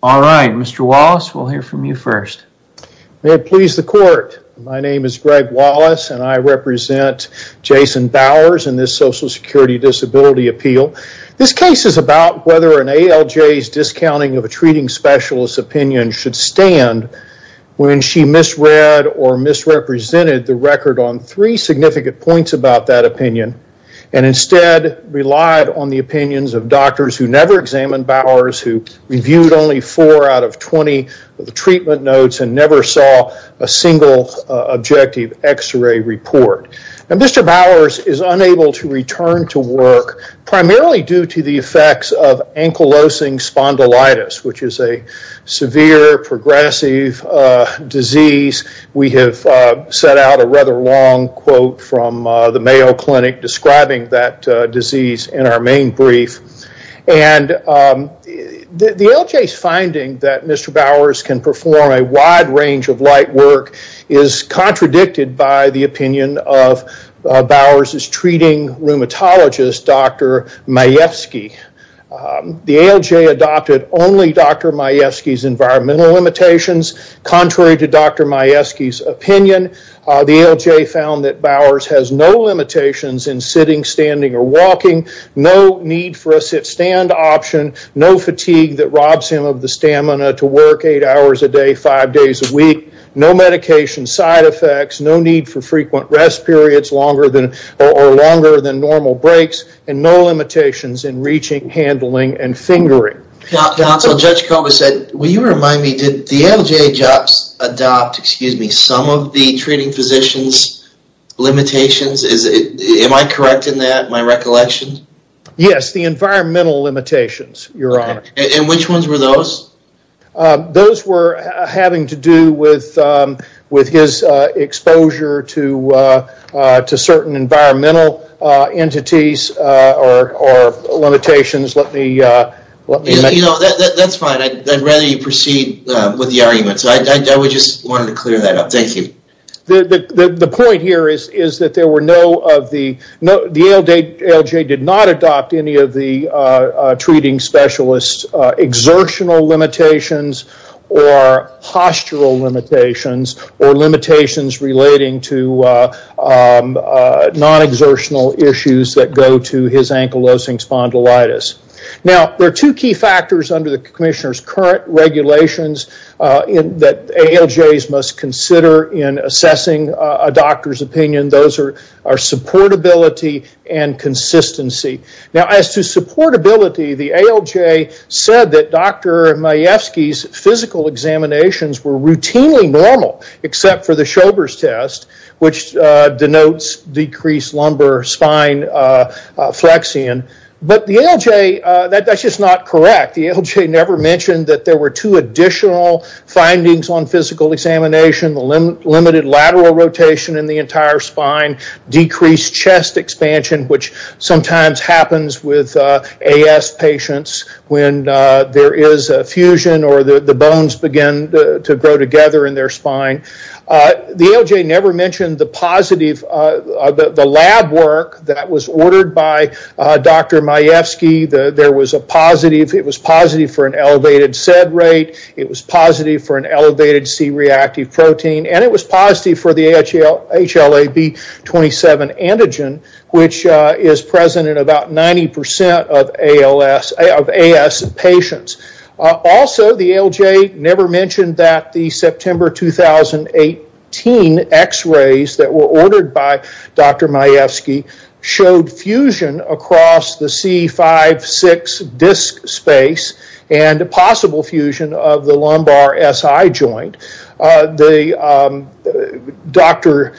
All right, Mr. Wallace we'll hear from you first. May it please the court, my name is Greg Wallace and I represent Jason Bowers in this Social Security Disability Appeal. This case is about whether an ALJ's discounting of a treating specialist opinion should stand when she misread or misrepresented the record on three significant points about that opinion and instead relied on the opinions of doctors who never examined Bowers, who reviewed only four out of 20 of the treatment notes and never saw a single objective x-ray report. Now Mr. Bowers is unable to return to work primarily due to the effects of ankylosing spondylitis which is a severe progressive disease. We have set out a rather long quote from the Mayo Clinic describing that disease in our main brief. The ALJ's finding that Mr. Bowers can perform a wide range of light work is contradicted by the opinion of Bowers' treating rheumatologist Dr. Majewski. The ALJ adopted only Dr. Majewski's environmental limitations contrary to Dr. Majewski's opinion. The ALJ found that Bowers has no limitations in sitting, standing, or walking, no need for a sit-stand option, no fatigue that robs him of the stamina to work eight hours a day, five days a week, no medication side effects, no need for frequent rest periods longer than or longer than normal breaks, and no limitations in reaching, handling, and fingering. Judge Koba said, will you remind me, did the ALJ adopt some of the treating physician's limitations? Am I correct in that, in my recollection? Yes, the environmental limitations, your honor. And which ones were those? Those were having to do with his exposure to certain environmental entities or limitations. Let me... You know, that's fine. I'd rather you proceed with the arguments. I just wanted to clear that up. Thank you. The point here is that there were no of the... The ALJ did not adopt any of the treating specialist exertional limitations or postural limitations or limitations relating to non-exertional issues that go to his ankylosing spondylitis. Now, there are two key factors under the commissioner's current regulations that ALJs must consider in assessing a doctor's opinion. Those are supportability and Dr. Majewski's physical examinations were routinely normal, except for the Schober's test, which denotes decreased lumbar spine flexion. But the ALJ, that's just not correct. The ALJ never mentioned that there were two additional findings on physical examination, limited lateral rotation in the entire spine, decreased chest expansion, which sometimes happens with AS patients when there is a fusion or the bones begin to grow together in their spine. The ALJ never mentioned the positive... The lab work that was ordered by Dr. Majewski, there was a positive. It was positive for an elevated SED rate. It was positive for an elevated C reactive protein, and it was positive for the HLA-B27 antigen, which is present in about 90% of AS patients. Also, the ALJ never mentioned that the September 2018 x-rays that were ordered by Dr. Majewski showed fusion across the C56 disc space and a possible fusion of the lumbar SI joint. Dr.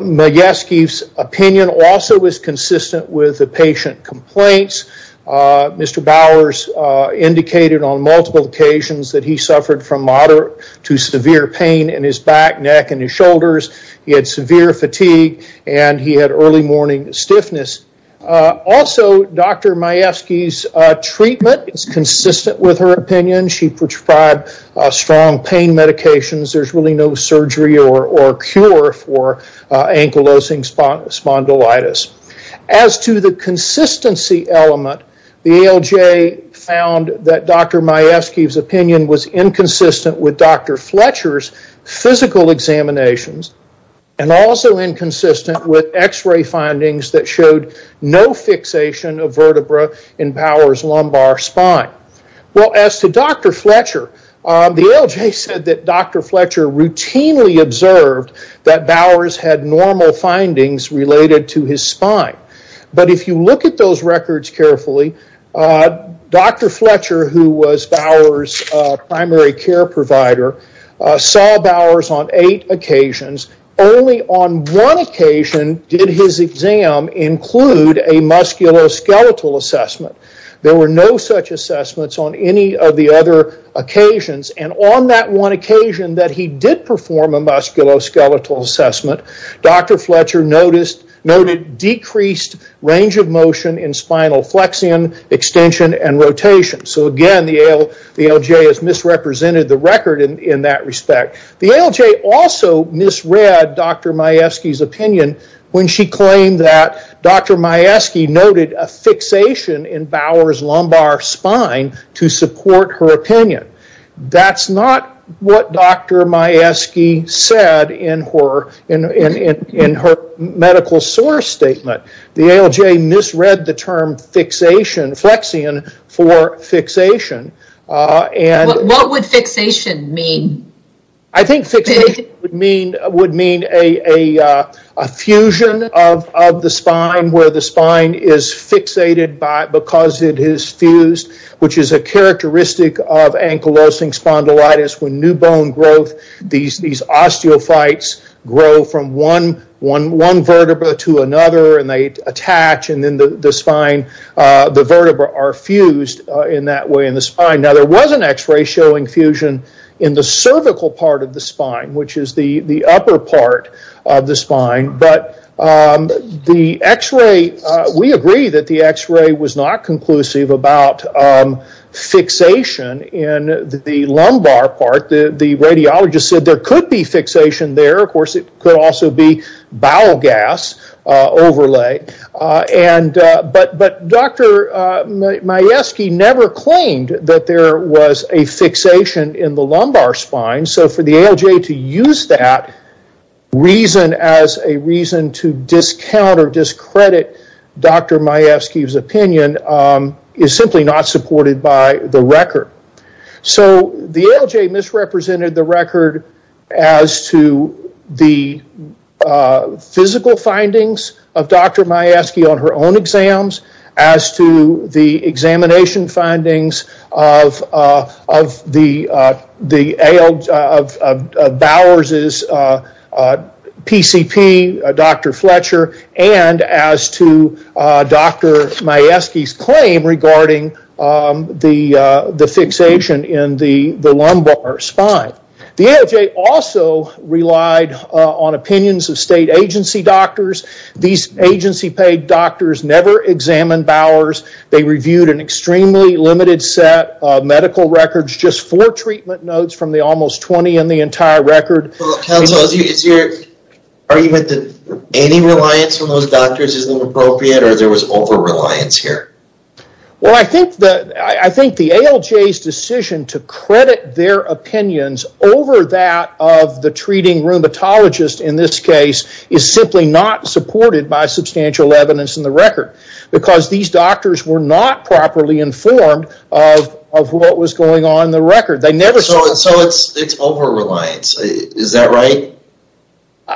Majewski's opinion also was consistent with the patient complaints. Mr. Bowers indicated on multiple occasions that he suffered from moderate to severe pain in his back, neck, and his shoulders. He had severe fatigue, and he had early morning stiffness. Also, Dr. Majewski's treatment is consistent with her opinion. She prescribed strong pain medications. There is really no surgery or cure for ankylosing spondylitis. As to the consistency element, the ALJ found that Dr. Majewski's opinion was inconsistent with Dr. Fletcher's physical examinations and also inconsistent with x-ray findings that showed no fixation of vertebrae in Bowers' lumbar spine. Well, as to Dr. Fletcher, the ALJ said that Dr. Fletcher routinely observed that Bowers had normal findings related to his spine. But if you look at those records carefully, Dr. Fletcher, who was Bowers' primary care provider, saw Bowers on eight occasions. Only on one occasion did his exam include a musculoskeletal assessment. There were no such assessments on any of the other occasions. On that one occasion that he did perform a musculoskeletal assessment, Dr. Fletcher noted decreased range of motion in spinal flexion, extension, and rotation. Again, the ALJ has misrepresented the record in that respect. The ALJ also misread Dr. Majewski's opinion when she claimed that Dr. Majewski noted a fixation in Bowers' lumbar spine to support her opinion. That's not what Dr. Majewski said in her medical source statement. The ALJ misread the term flexion for fixation. What would fixation mean? I think fixation would mean a fusion of the spine where the spine is fixated because it is fused, which is a characteristic of ankylosing spondylitis. When new bone growth, these osteophytes grow from one vertebra to another, and they attach. Then the vertebra are fused in that way in the spine. There was an x-ray showing fusion in the cervical part of the spine, which is the upper part of the spine. We agree that the x-ray was not conclusive about fixation in the lumbar part. The radiologist said there could be fixation there. Of course, it could also be bowel gas overlay. Dr. Majewski never claimed that there was a fixation in the lumbar spine. For the ALJ to use that reason as a reason to discount or discredit Dr. Majewski's opinion is simply not Dr. Majewski on her own exams, as to the examination findings of Bowers' PCP, Dr. Fletcher, and as to Dr. Majewski's claim regarding the fixation in the lumbar spine. The ALJ also relied on opinions of state agency doctors. These agency-paid doctors never examined Bowers. They reviewed an extremely limited set of medical records, just four treatment notes from the almost 20 in the entire record. Council, is your argument that any reliance on those doctors is not appropriate, or there was over-reliance here? I think the ALJ's decision to credit their opinions over that of the treating rheumatologist in this case is simply not supported by substantial evidence in the record, because these doctors were not properly informed of what was going on in the record. So it's over-reliance, is that right?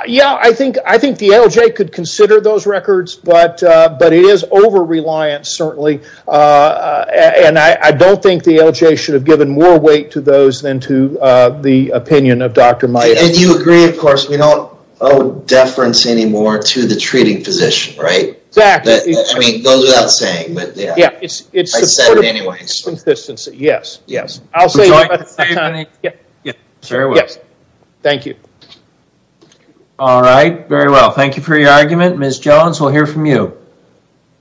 Yeah, I think the ALJ could consider those records, but it is over-reliance, certainly. I don't think the ALJ should have given more weight to those than to the opinion of Dr. Majewski. And you agree, of course, we don't owe deference anymore to the treating physician, right? Exactly. I mean, it goes without saying, but yeah. Yeah, it's the sort of consistency, yes. Yes. I'll say that at the same time. Yes, very well. Thank you. All right, very well. Thank you for your argument. Ms. Jones, we'll hear from you.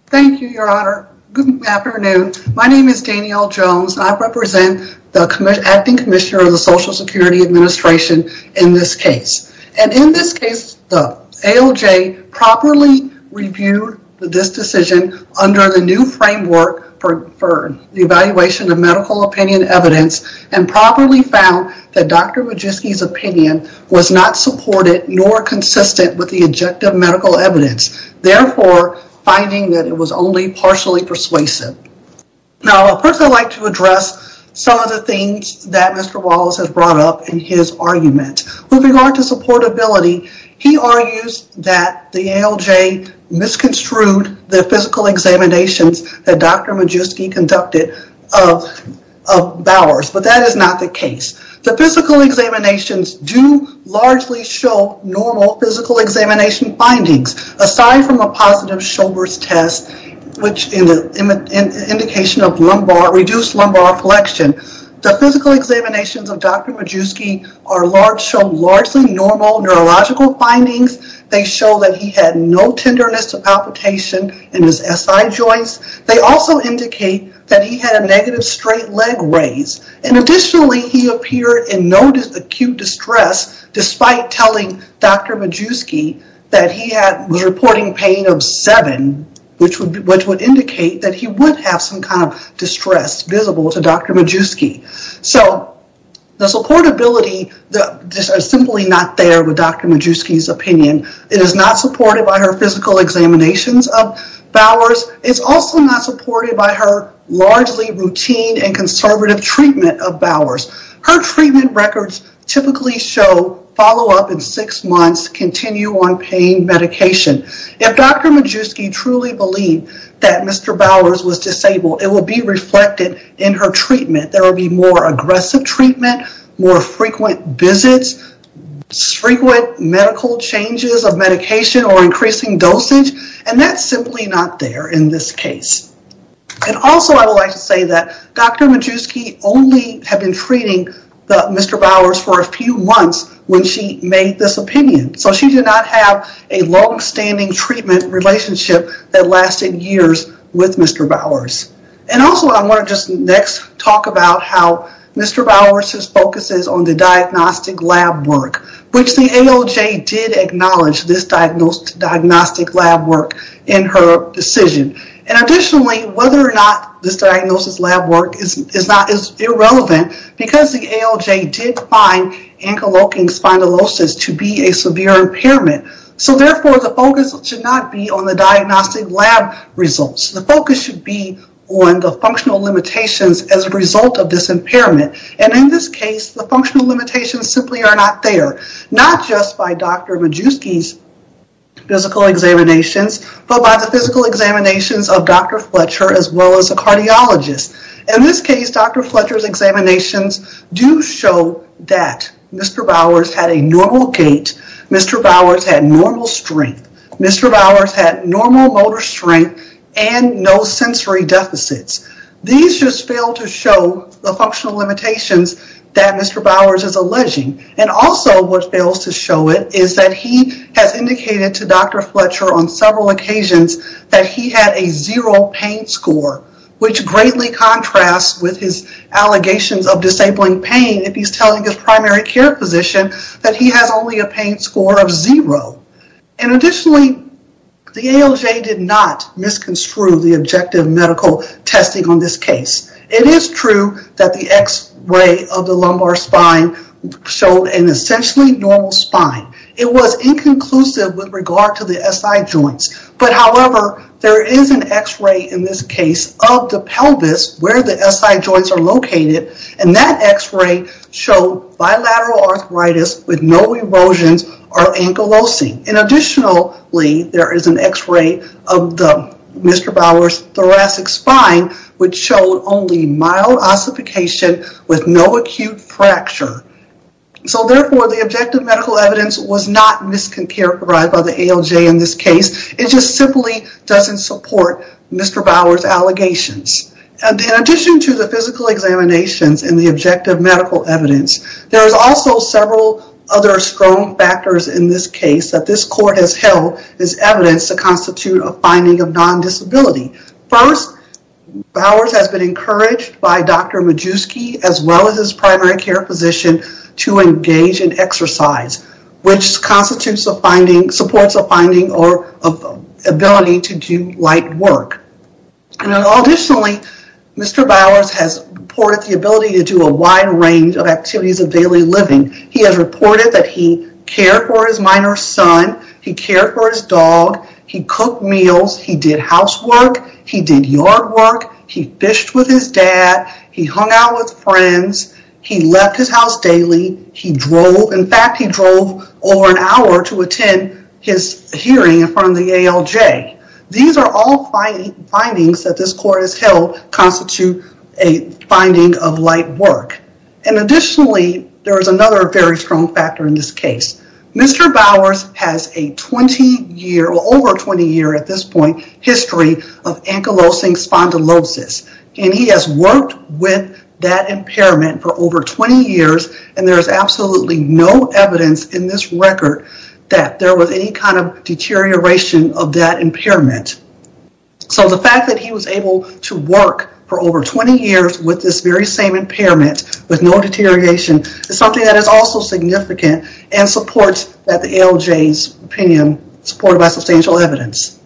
Thank you, Your Honor. Good afternoon. My name is Danielle Jones. I represent the Acting Commissioner of the Social Security Administration in this case. And in this case, the ALJ properly reviewed this decision under the new framework for the evaluation of medical opinion evidence and properly found that Dr. Majewski's opinion was not supported nor consistent with the objective medical evidence, therefore finding that it was only partially persuasive. Now, I'd personally like to address some of the things that Mr. Wallace has brought up in his argument. With regard to supportability, he argues that the ALJ misconstrued the physical examinations that Dr. Majewski conducted of Bowers, but that is not the case. The physical examinations do largely show normal physical examination findings, aside from a positive Showbert's test, which is an indication of reduced lumbar flexion. The physical examinations of Dr. Majewski show largely normal neurological findings. They show that he had no tenderness of palpitation in his SI joints. They also indicate that he had a negative straight leg raise. And additionally, he appeared in no acute distress, despite telling Dr. Majewski that he was reporting pain of seven, which would indicate that he would have some kind of distress visible to Dr. Majewski. So, the supportability is simply not there with Dr. Majewski's opinion. It is not supported by her physical examinations of Bowers. It's also not supported by her largely routine and conservative treatment of Bowers. Her treatment records typically show follow-up in six months, continue on pain medication. If Dr. Majewski truly believed that Mr. Bowers was disabled, it will be reflected in her treatment. There will be more aggressive treatment, more frequent visits, frequent medical changes of medication or increasing dosage, and that's simply not there in this case. And also, I would like to say that Dr. Majewski only had been treating Mr. Bowers for a few months when she made this opinion. So, she did not have a long-standing treatment relationship that lasted years with Mr. Bowers. And also, I want to just next talk about how Mr. Bowers focuses on the diagnostic lab work, which the AOJ did acknowledge this diagnostic lab work in her decision. And additionally, whether or not this diagnosis lab work is irrelevant because the AOJ did find ankylosing spondylosis to be a severe impairment. So therefore, the focus should not be on the diagnostic lab results. The focus should be on the functional limitations as a result of this impairment. And in this case, the functional limitations simply are not there, not just by Dr. Fletcher's examinations of Dr. Fletcher as well as a cardiologist. In this case, Dr. Fletcher's examinations do show that Mr. Bowers had a normal gait, Mr. Bowers had normal strength, Mr. Bowers had normal motor strength, and no sensory deficits. These just fail to show the functional limitations that Mr. Bowers is alleging. And also, what fails to show it is that he has indicated to Dr. Fletcher on his primary care physician that he had a zero pain score, which greatly contrasts with his allegations of disabling pain if he's telling his primary care physician that he has only a pain score of zero. And additionally, the AOJ did not misconstrue the objective medical testing on this case. It is true that the x-ray of the lumbar spine showed an essentially normal spine. It was inconclusive with regard to the SI joints. But however, there is an x-ray in this case of the pelvis where the SI joints are located, and that x-ray showed bilateral arthritis with no erosions or ankylosing. And additionally, there is an x-ray of Mr. Bowers' thoracic spine, which showed only mild ossification with no acute fracture. So therefore, the objective medical evidence was not mischaracterized by the AOJ in this case. It just simply doesn't support Mr. Bowers' allegations. And in addition to the physical examinations and the objective medical evidence, there is also several other strong factors in this case that this court has held as evidence to constitute a finding of non-disability. First, Bowers has been encouraged by Dr. Majewski as well as his primary care physician to engage in exercise, which constitutes a finding, supports a finding or of ability to do light work. And additionally, Mr. Bowers has reported the ability to do a wide range of activities of daily living. He has reported that he cared for his minor son, he cared for his dog, he cooked meals, he did housework, he did yard work, he fished with his dad, he hung out with friends, he left his house daily, he drove. In fact, he drove over an hour to attend his hearing in front of the AOJ. These are all findings that this court has held constitute a finding of light work. And additionally, there is another very strong factor in this case. Mr. Bowers has a 20-year, over 20-year at this point, history of ankylosing spondylosis. And he has worked with that impairment for over 20 years and there is absolutely no evidence in this record that there was any kind of deterioration of that impairment. So the fact that he was able to work for over 20 years with this very same impairment with no deterioration is something that is also significant and supports that the AOJ's opinion supported by substantial evidence.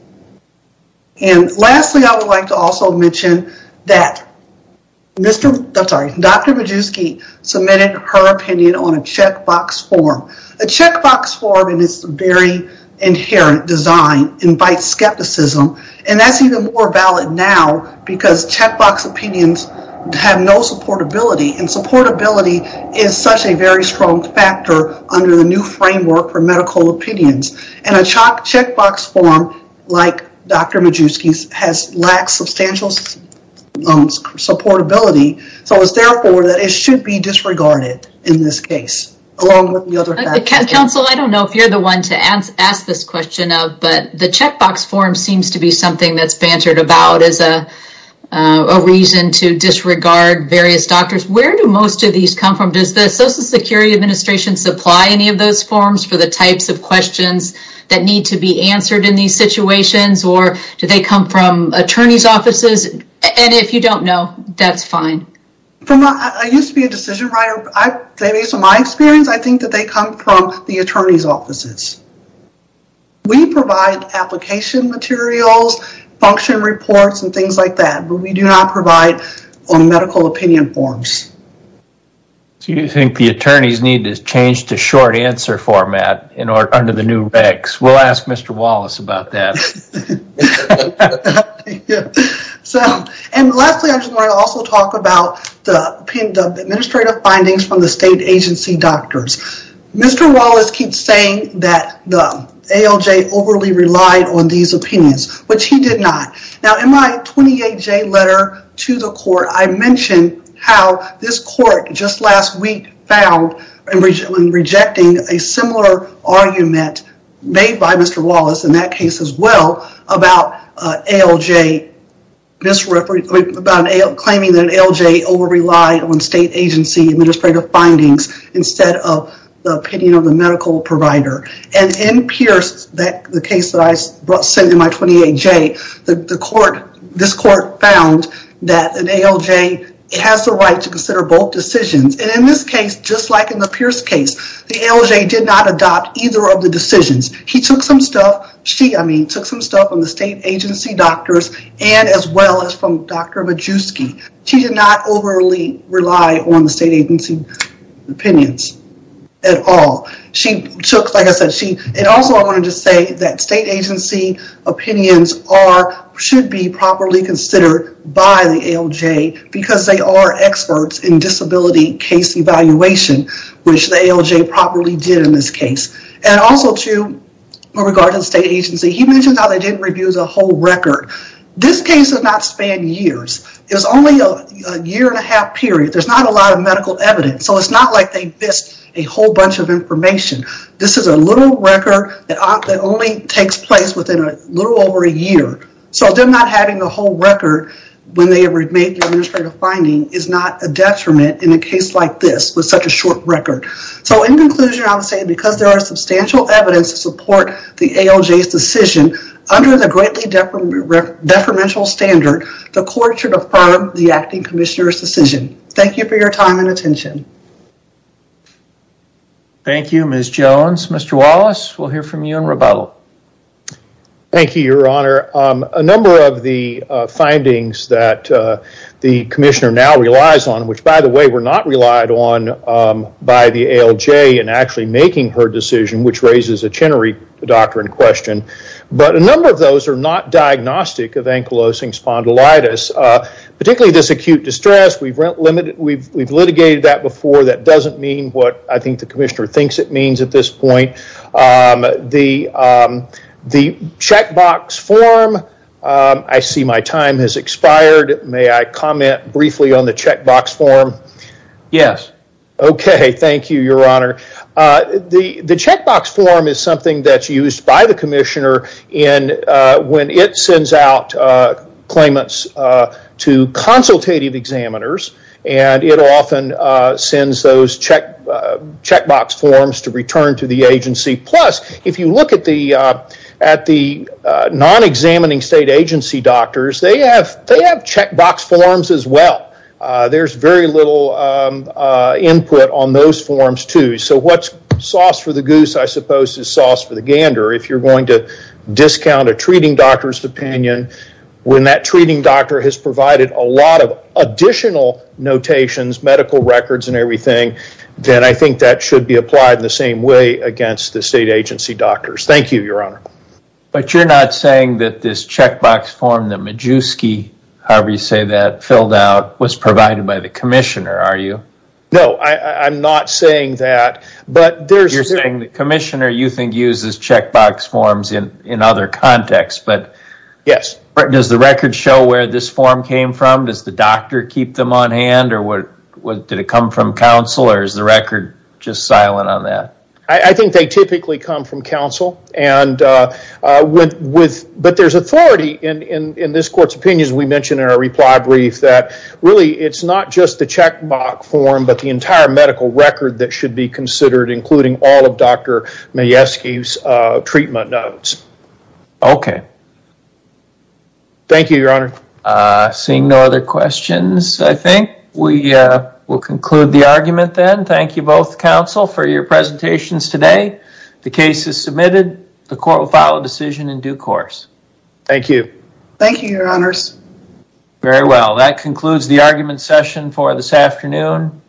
And lastly, I would like to also mention that Dr. Majewski submitted her opinion on a checkbox form. A checkbox form in its very inherent design invites skepticism and that's even more valid now because checkbox opinions have no supportability and supportability is such a very strong factor under the new framework for medical opinions. And a checkbox form like Dr. Majewski's has lacked substantial supportability, so it's therefore that it should be disregarded in this case, along with the other factors. Counsel, I don't know if you're the one to ask this question of, but the checkbox form seems to be something that's bantered about as a reason to disregard various doctors. Where do most of those come from? Does the Social Security Administration supply any of those forms for the types of questions that need to be answered in these situations or do they come from attorneys offices? And if you don't know, that's fine. I used to be a decision writer. Based on my experience, I think that they come from the attorney's offices. We provide application materials, function reports, and things like that, but we do not provide medical opinion forms. You think the attorneys need to change to short answer format under the new regs? We'll ask Mr. Wallace about that. And lastly, I just want to also talk about the administrative findings from the state agency doctors. Mr. Wallace keeps saying that the ALJ overly relied on these opinions, which he did not. Now, in my 28J letter to the court, I mentioned how this court just last week found in rejecting a similar argument made by Mr. Wallace in that case as well about claiming that ALJ over relied on state agency administrative findings instead of the opinion of the medical provider. And in the case that I sent in my 28J, this court found that an ALJ has the right to consider both decisions. And in this case, just like in the Pierce case, the ALJ did not adopt either of the decisions. He took some stuff, she, I mean, took some stuff from the state agency doctors and as well as from Dr. Majewski. She did not overly rely on the state agency opinions at all. She took, like I said, she, and also I wanted to say that state agency opinions are, should be properly considered by the ALJ because they are experts in disability case evaluation, which the ALJ properly did in this case. And also too, with regard to the state agency, he mentioned how they didn't review the whole record. This case did not span years. It was only a year and a half period. There's not a lot of medical evidence. So it's not like they missed a whole bunch of information. This is a little record that only takes place within a little over a year. So them not having the whole record when they made the administrative finding is not a detriment in a case like this, with such a short record. So in conclusion, I would say because there are substantial evidence to support the ALJ's decision under the greatly deferential standard, the court should affirm the acting commissioner's decision. Thank you for your time and attention. Thank you, Ms. Jones. Mr. Wallace, we'll hear from you in rebuttal. Thank you, your honor. A number of the findings that the commissioner now relies on, which by the way, were not relied on by the ALJ in actually making her decision, which raises a Chenery doctrine question, but a number of those are not diagnostic of ankylosing spondylitis, particularly this acute distress. We've litigated that before. That doesn't mean what I think the commissioner thinks it means at this point. The checkbox form, I see my time has expired. May I comment briefly on the checkbox form? Yes. Okay. Thank you, your honor. The checkbox form is something that's used by the commissioner in when it sends out claimants to consultative examiners and it often sends those checkbox forms to return to the agency. Plus, if you look at the non-examining state agency doctors, they have checkbox forms as well. There's very little input on those forms too. So what's sauce for the goose, I suppose, is sauce for the gander. If you're going to discount a treating doctor's opinion, when that treating doctor has provided a lot of additional notations, medical records and everything, then I think that should be applied in the same way against the state agency doctors. Thank you, your honor. But you're not saying that this checkbox form, the Majewski, however you say that, filled out, was provided by the commissioner, are you? No, I'm not saying that, but there's... You're saying the commissioner, you think, uses checkbox forms in other contexts, but... Yes. Does the record show where this form came from? Does the doctor keep them on hand, or did it come from counsel, or is the record just silent on that? I think they typically come from counsel, but there's authority in this court's opinions. We mentioned in our reply brief that really it's not just the checkbox form, but the entire medical record that should be considered, including all of Dr. Majewski's treatment notes. Okay. Thank you, your honor. Seeing no other questions, I think we will conclude the argument then. Thank you both, counsel, for your presentations today. The case is submitted. The court will file a decision in due course. Thank you. Thank you, your honors. Very well. That concludes the argument session for this afternoon.